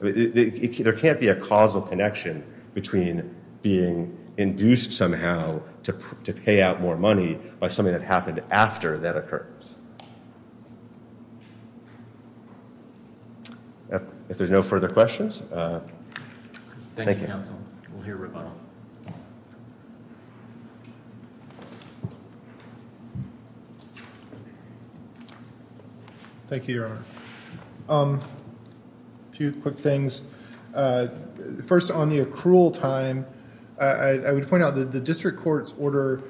there can't be a causal connection between being induced somehow to pay out more money by something that happened after that occurs if there's no further questions thank you thank you a few quick things first on the accrual time I would point out that the district court's order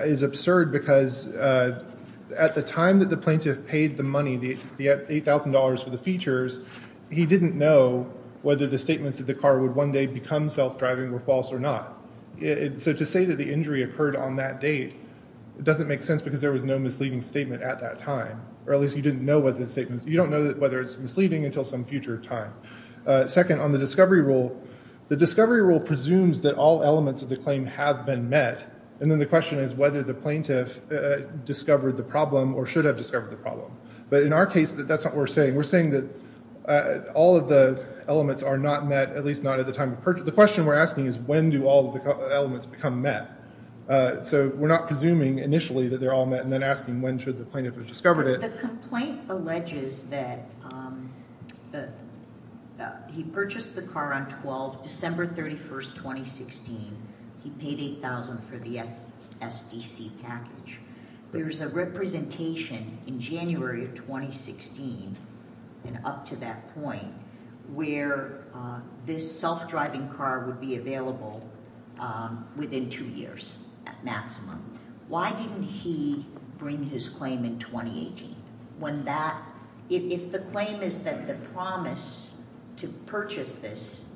is absurd because at the time that the plaintiff paid the money yet $8,000 for the features he didn't know whether the statements of the car would one day become self-driving or false or not it's a to say that the injury occurred on that date doesn't make sense because there was no misleading statement at that time or at least you didn't know what the statement you don't know that whether it's misleading until some future time second on the discovery rule the discovery rule presumes that all elements of the claim have been met and then the question is whether the plaintiff discovered the problem or should have discovered the problem but in our case that that's what we're saying we're saying that all of the elements are not met at least not at the time of purchase the question we're asking is when do all the elements become met so we're not presuming initially that they're all met and then asking when should the plaintiff have discovered it the complaint alleges that he purchased the car on 12 December 31st 2016 he paid 8,000 for the FSDC package there's a representation in January of 2016 and up to that point where this self-driving car would be available within two years at maximum why didn't he bring his claim in 2018 when that if the claim is that the promise to purchase this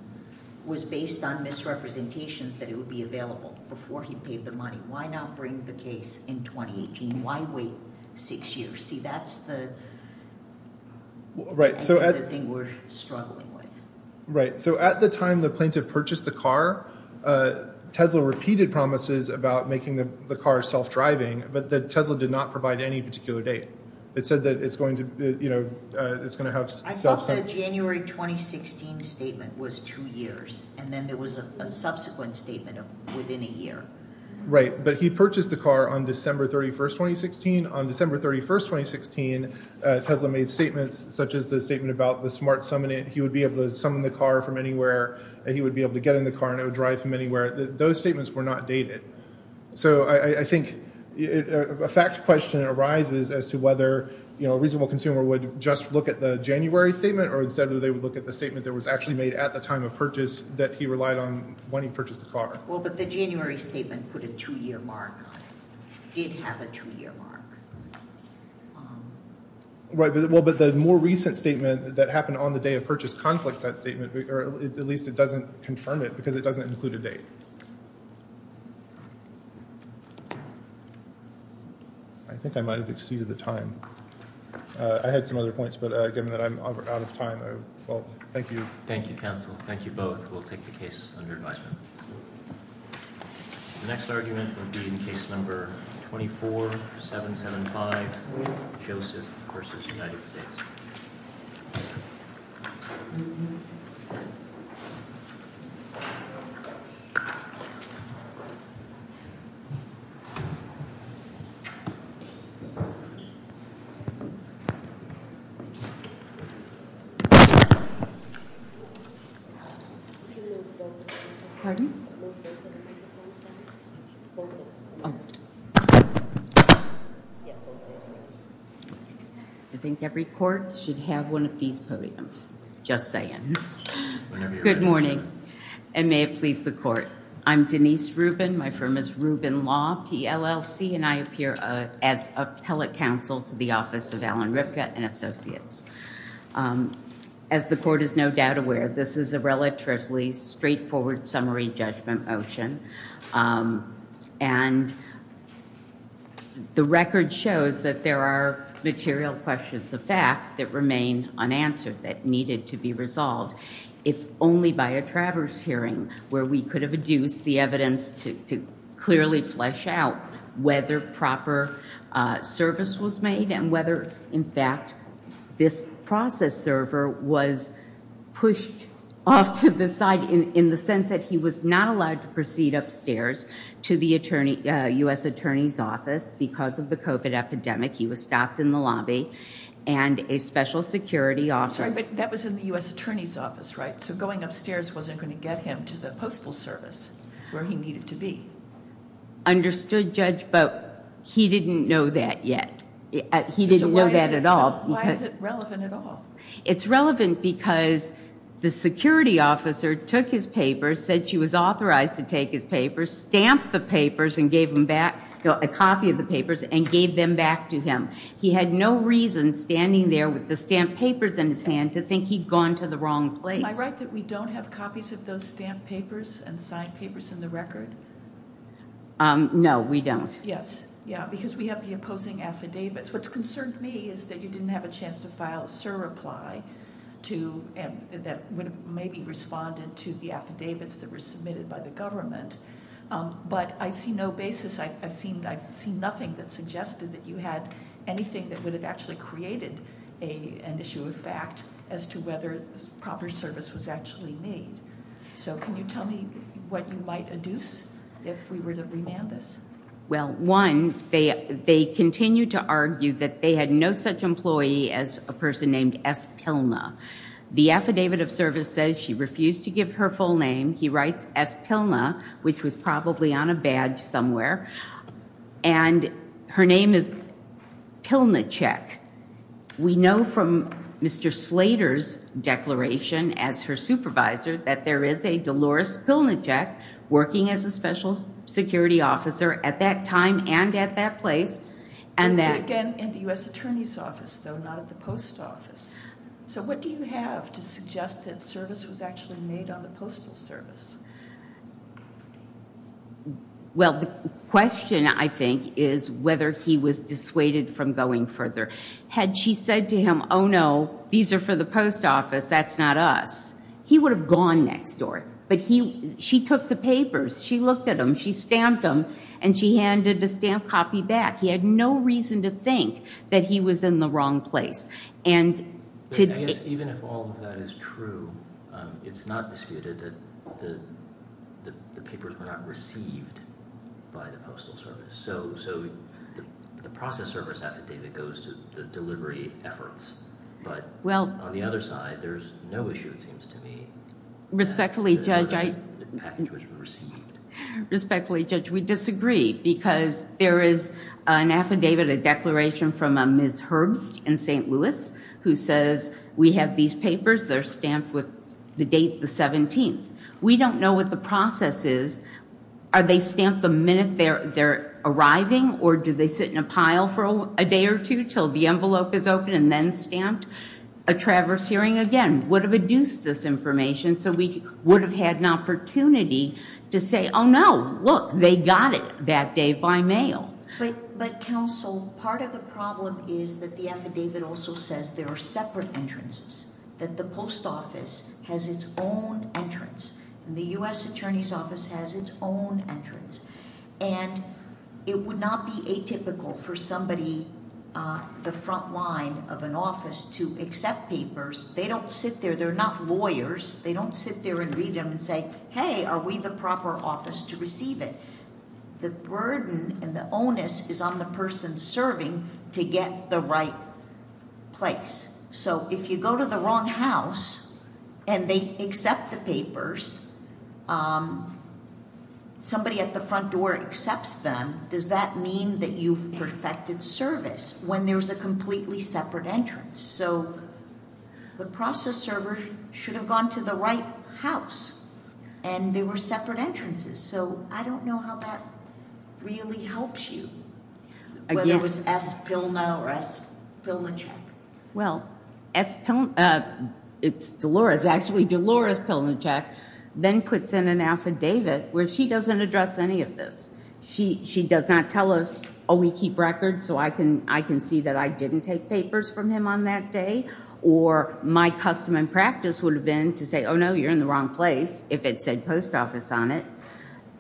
was based on misrepresentations that it would be available before he paid the money why bring the case in 2018 why wait six years see that's the right so everything we're struggling with right so at the time the plaintiff purchased the car Tesla repeated promises about making the car self-driving but that Tesla did not provide any particular date it said that it's going to you know it's going to have January 2016 statement was two years and then there was a subsequent within a year right but he purchased the car on December 31st 2016 on December 31st 2016 Tesla made statements such as the statement about the smart summon it he would be able to summon the car from anywhere and he would be able to get in the car and it would drive from anywhere those statements were not dated so I think a fact question arises as to whether you know a reasonable consumer would just look at the January statement or instead of they would look at the statement that was actually made at the time of purchase that he relied on when he purchased a car well but the January statement put a two-year mark did have a two-year mark right well but the more recent statement that happened on the day of purchase conflicts that statement or at least it doesn't confirm it because it doesn't include a date I think I might have exceeded the time I had some other points but given that I'm out of time oh well thank you thank you counsel thank you both we'll take the case under advisement the next argument will be in case number 24 775 Joseph versus United States I think every court should have one of these podiums just saying good morning and may it please the court I'm Denise Rubin my firm is Rubin law PLLC and I appear as appellate counsel to the office of Alan Ripka and associates as the court is no doubt aware this is a relatively straightforward summary judgment motion and the record shows that there are material questions of fact that remain unanswered that needed to be resolved if only by a traverse hearing where we could have adduced the evidence to clearly flesh out whether proper service was made and whether in fact this process server was pushed off to the side in in the sense that he was not allowed to proceed upstairs to the attorney US Attorney's Office because of the cope at epidemic he was stopped in the lobby and a special security officer that was in the US Attorney's Office right so going upstairs wasn't going to get him to the Postal Service where he needed to be understood judge but he didn't know that yet he didn't know that at all it's relevant because the security officer took his paper said she was authorized to take his paper stamp the papers and gave him back a copy of the papers and gave them back to him he had no reason standing there with the stamped papers in his hand to think he'd gone to the wrong place I write that we don't have copies of those papers and signed papers in the record no we don't yes yeah because we have the opposing affidavits what's concerned me is that you didn't have a chance to file sir reply to maybe responded to the affidavits that were submitted by the government but I see no basis I've seen I've seen nothing that suggested that you had anything that would have actually created a an issue of fact as to whether proper service was actually made so can you tell me what you might adduce if we were to remand this well one they they continue to argue that they had no such employee as a person named s pilna the affidavit of service says she refused to give her full name he writes s pilna which was probably on a badge somewhere and her name is pilna check we know from mr. Slater's declaration as her supervisor that there is a Dolores pilna check working as a special security officer at that time and at that place and that again in the US Attorney's Office though not at the post office so what do you have to suggest that service was actually made on the Postal Service well the question I think is whether he was dissuaded from going further had she said to him oh no these are for the post office that's not us he would have gone next door but he she took the papers she looked at him she stamped them and she handed the stamp copy back he had no reason to think that he was in the wrong place and it's not disputed that the papers were delivery efforts but well on the other side there's no issue it seems to me respectfully judge I respectfully judge we disagree because there is an affidavit a declaration from a ms. Herbst in st. Louis who says we have these papers they're stamped with the date the 17th we don't know what the process is are they stamped the minute they're they're arriving or do they sit in a pile for a day or two till the envelope is open and then stamped a traverse hearing again would have adduced this information so we would have had an opportunity to say oh no look they got it that day by mail but but counsel part of the problem is that the affidavit also says there are separate entrances that the post office has its own entrance the US Attorney's Office has its own entrance and it would not be atypical for somebody the front line of an office to accept papers they don't sit there they're not lawyers they don't sit there and read them and say hey are we the proper office to receive it the burden and the onus is on the person serving to get the right place so if you go to the wrong house and they accept the papers somebody at the front door accepts them does that mean that you've perfected service when there's a completely separate entrance so the process server should have gone to the right house and they were separate entrances so I don't know how that really helps you it was s bill now rest bill in check well as it's Dolores actually Dolores pill in check then puts in an affidavit where she doesn't address any of this she she does not tell us oh we keep records so I can I can see that I didn't take papers from him on that day or my custom and practice would have been to say oh no you're in the wrong place if it said post office on it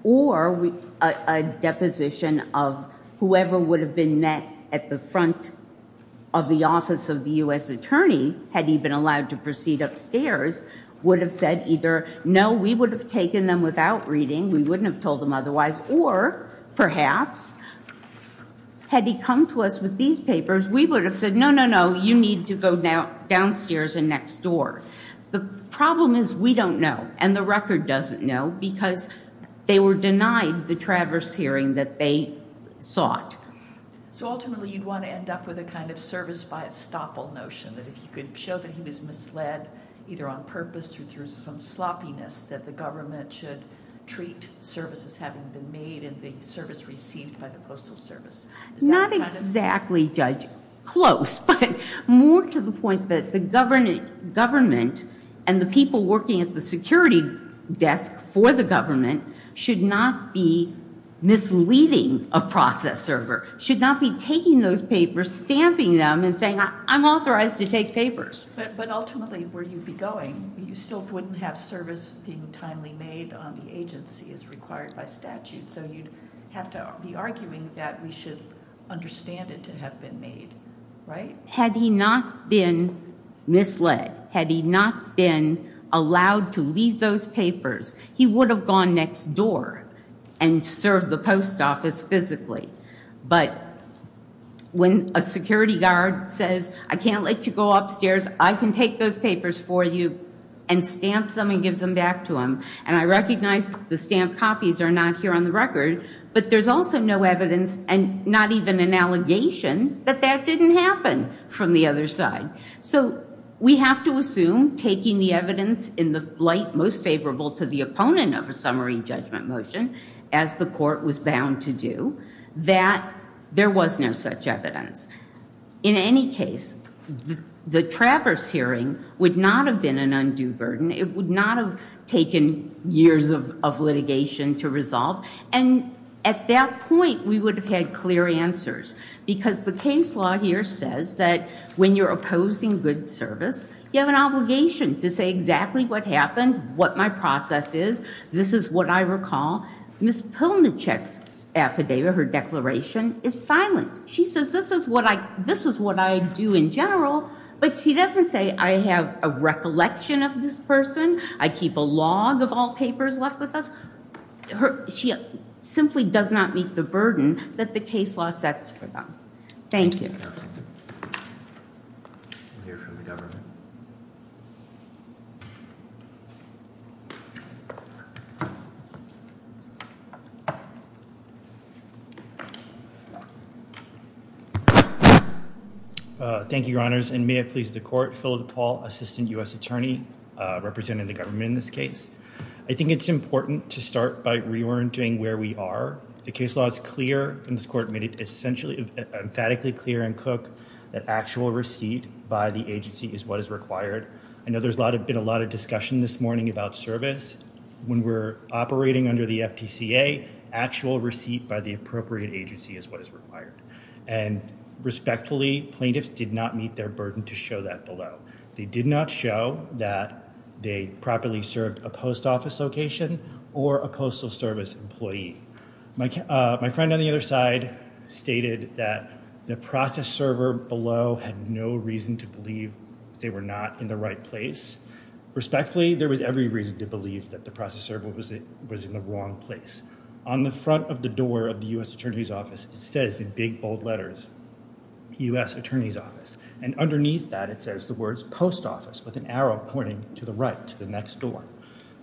or we a deposition of whoever would have been met at the front of the office of the US Attorney had he been allowed to proceed upstairs would have said either no we would have taken them without reading we wouldn't have told them otherwise or perhaps had he come to us with these papers we would have said no no no you need to go down downstairs and next door the problem is we don't know and the record doesn't know because they were denied the traverse hearing that they sought so ultimately you'd want to end up with a kind of service by a stop all notion that if you could show that he was misled either on purpose or through some sloppiness that the government should treat services having been made in the service received by the Postal Service not exactly judge close but more to the point that the government government and the people working at the security desk for the government should not be misleading a process server should not be taking those papers stamping them and saying I'm authorized to take papers but ultimately where you'd be going you still wouldn't have service being timely made on the agency is required by statute so you'd have to be arguing that we should understand it to have been right had he not been misled had he not been allowed to leave those papers he would have gone next door and serve the post office physically but when a security guard says I can't let you go upstairs I can take those papers for you and stamp something gives them back to him and I recognized the stamp copies are not here on the record but there's also no evidence and not even an allegation that that didn't happen from the other side so we have to assume taking the evidence in the light most favorable to the opponent of a summary judgment motion as the court was bound to do that there was no such evidence in any case the Travers hearing would not have been an undue burden it would not have taken years of litigation to resolve and at that point we would have clear answers because the case law here says that when you're opposing good service you have an obligation to say exactly what happened what my process is this is what I recall miss Pillman checks affidavit her declaration is silent she says this is what I this is what I do in general but she doesn't say I have a recollection of this person I keep a log of all papers left with us she simply does not meet the burden that the case law sets for them thank you thank you your honors and may I please the court filled Paul assistant u.s. attorney representing the government in this case I think it's important to start by reorienting where we are the case law is clear and this court made it essentially emphatically clear and cook that actual receipt by the agency is what is required I know there's a lot of been a lot of discussion this morning about service when we're operating under the FTCA actual receipt by the appropriate agency is what is required and respectfully plaintiffs did not meet their burden to show that below they did not show that they properly served a location or a Postal Service employee my friend on the other side stated that the process server below had no reason to believe they were not in the right place respectfully there was every reason to believe that the process server was it was in the wrong place on the front of the door of the US Attorney's Office it says in big bold letters US Attorney's Office and underneath that it says the with an arrow pointing to the right to the next door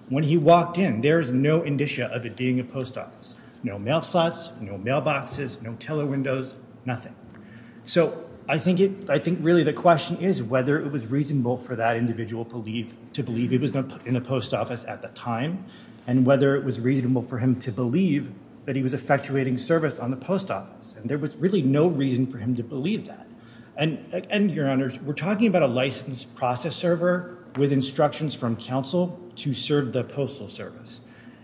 when he walked in there's no indicia of it being a post office no mail slots no mailboxes no teller windows nothing so I think it I think really the question is whether it was reasonable for that individual believe to believe it was not put in a post office at the time and whether it was reasonable for him to believe that he was effectuating service on the post office and there was really no reason for him to believe that and and your honors we're talking about a licensed process server with instructions from counsel to serve the Postal Service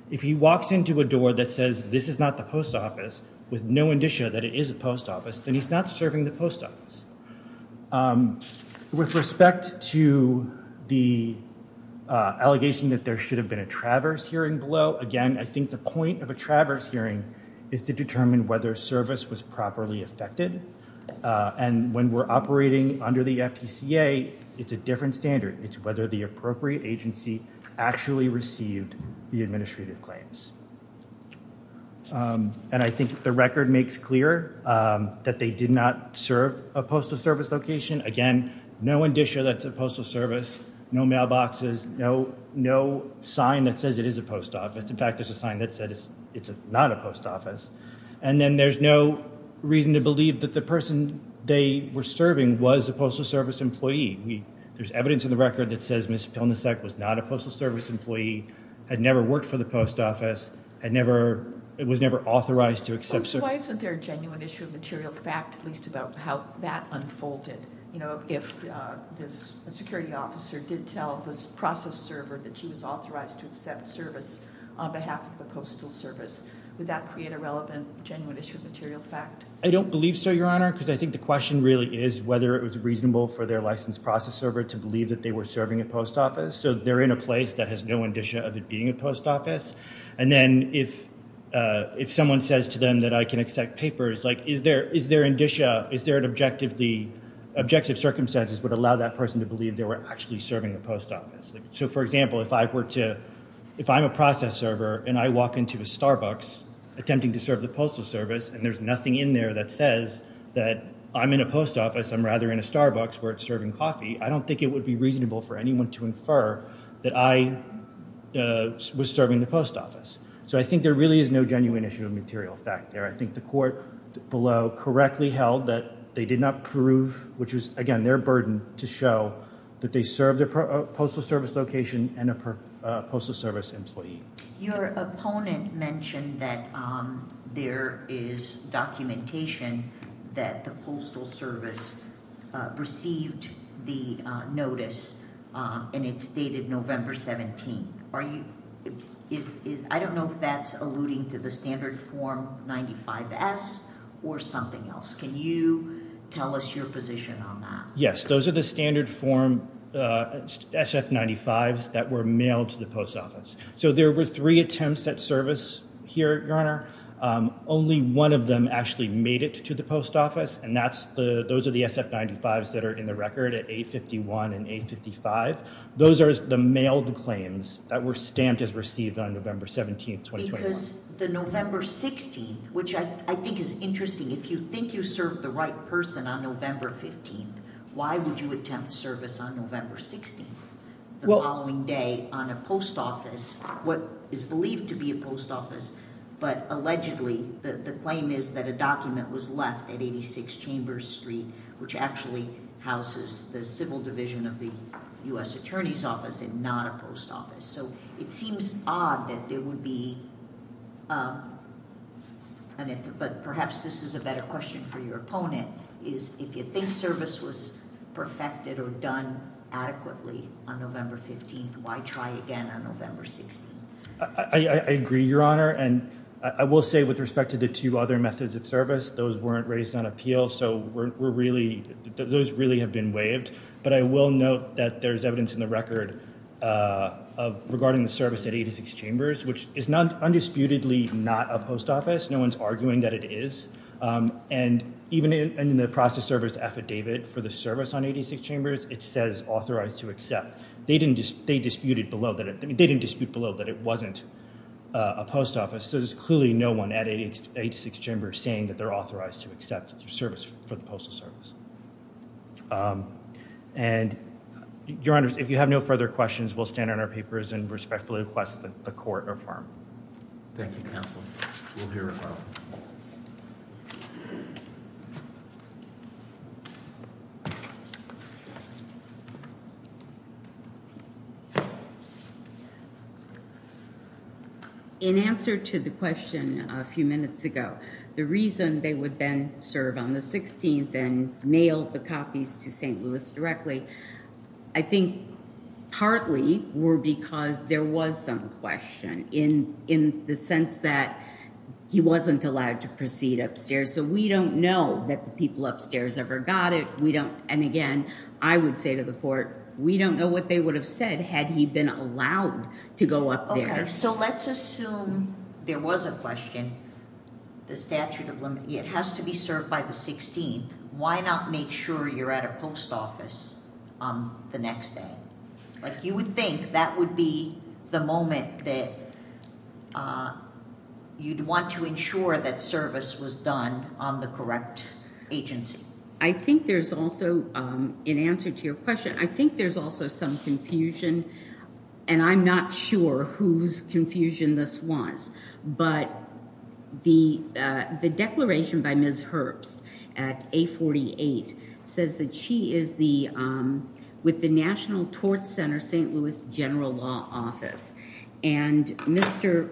if he walks into a door that says this is not the post office with no indicia that it is a post office then he's not serving the post office with respect to the allegation that there should have been a traverse hearing below again I think the point of a traverse hearing is to determine whether service was properly affected and when we're operating under the FTCA it's a different standard it's whether the appropriate agency actually received the administrative claims and I think the record makes clear that they did not serve a Postal Service location again no indicia that's a Postal Service no mailboxes no no sign that says it is a post office in fact there's a sign that says it's not a post office and then there's no reason to believe that the person they were serving was a Postal Service employee we there's evidence in the record that says mr. Pelnicek was not a Postal Service employee had never worked for the post office I never it was never authorized to accept so why isn't there a genuine issue of material fact at least about how that unfolded you know if this security officer did tell this process server that she was on behalf of the Postal Service would that create a relevant genuine issue of material fact I don't believe so your honor because I think the question really is whether it was reasonable for their license process server to believe that they were serving a post office so they're in a place that has no indicia of it being a post office and then if if someone says to them that I can accept papers like is there is there indicia is there an objective the objective circumstances would allow that person to believe they were actually serving the post office so for example if I were to if I'm a process server and I walk into a Starbucks attempting to serve the Postal Service and there's nothing in there that says that I'm in a post office I'm rather in a Starbucks where it's serving coffee I don't think it would be reasonable for anyone to infer that I was serving the post office so I think there really is no genuine issue of material fact there I think the court below correctly held that they did not which is again their burden to show that they serve their Postal Service location and a Postal Service employee your opponent mentioned that there is documentation that the Postal Service received the notice and it's dated November 17th are you is I don't know if that's alluding to the standard form 95 or something else can you tell us your position on that yes those are the standard form SF 95s that were mailed to the post office so there were three attempts at service here your honor only one of them actually made it to the post office and that's the those are the SF 95s that are in the record at 851 and 855 those are the mailed claims that were stamped as received on November 17th because the November 16th which I think is interesting if you think you serve the right person on November 15th why would you attempt service on November 16th well following day on a post office what is believed to be a post office but allegedly the claim is that a document was left at 86 Chambers Street which actually houses the civil division of the US Attorney's Office and not a post office so it seems odd that there would be and if but perhaps this is a better question for your opponent is if you think service was perfected or done adequately on November 15th why try again on November 16th I agree your honor and I will say with respect to the two other methods of service those weren't raised on appeal so we're really those really have been waived but I will note that there's evidence in the record of regarding the service at 86 Chambers which is not undisputedly not a post office no one's arguing that it is and even in the process service affidavit for the service on 86 Chambers it says authorized to accept they didn't just they disputed below that it didn't dispute below that it wasn't a post office so there's clearly no one at 86 Chambers saying that they're authorized to accept your service for the postal service and your honors if you have no further questions we'll stand on our papers and respectfully request that the court or firm thank you counsel in answer to the question a few minutes ago the reason they would then serve on the 16th and mail the copies to st. Louis directly I think partly were because there was some question in in the sense that he wasn't allowed to proceed upstairs so we don't know that the people upstairs ever got it we don't and again I would say to the court we don't know what they would have said had he been allowed to go up there so let's assume there was a question the statute it has to be served by the 16th why not make sure you're at a post office on the next day like you would think that would be the moment that you'd want to ensure that service was done on the correct agency I think there's also in answer to your question I think there's also some confusion and I'm not sure whose confusion this was but the the declaration by ms. Herbst at a 48 says that she is the with the National Tort Center st. Louis General Law Office and mr.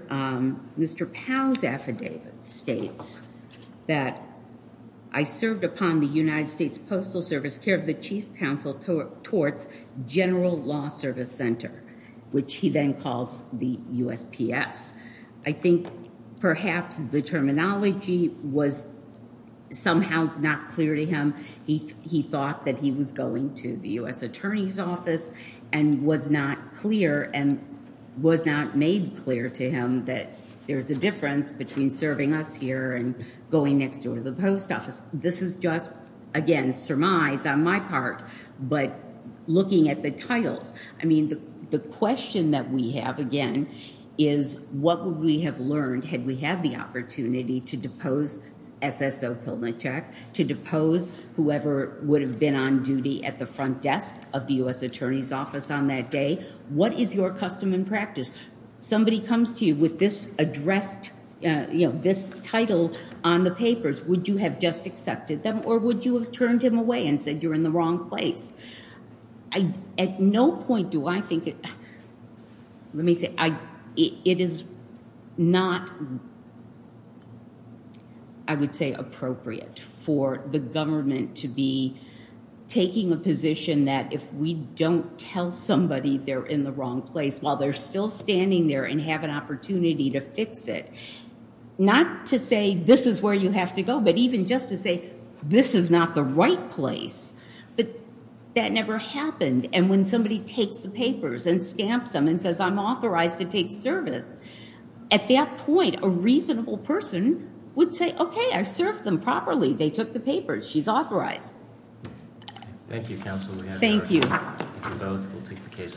mr. Powell's affidavit states that I served upon the United States Postal Service care of the Chief Counsel towards General Law Service Center which he then calls the USPS I think perhaps the terminology was somehow not clear to him he he thought that he was going to the US Attorney's Office and was not clear and was not made clear to him that there's a difference between serving us here and going next door to the post office this is just again surmise on my but looking at the titles I mean the question that we have again is what would we have learned had we had the opportunity to depose SSO Pilnicek to depose whoever would have been on duty at the front desk of the US Attorney's Office on that day what is your custom and practice somebody comes to you with this addressed you know this title on the papers would you have just accepted them or would you have turned him away and said you're in the wrong place I at no point do I think it let me say I it is not I would say appropriate for the government to be taking a position that if we don't tell somebody they're in the wrong place while they're still standing there and have an opportunity to fix it not to say this is where you have to go but even just to say this is not the right place but that never happened and when somebody takes the papers and stamps them and says I'm authorized to take service at that point a reasonable person would say okay I served them properly they took the papers she's authorized thank you thank you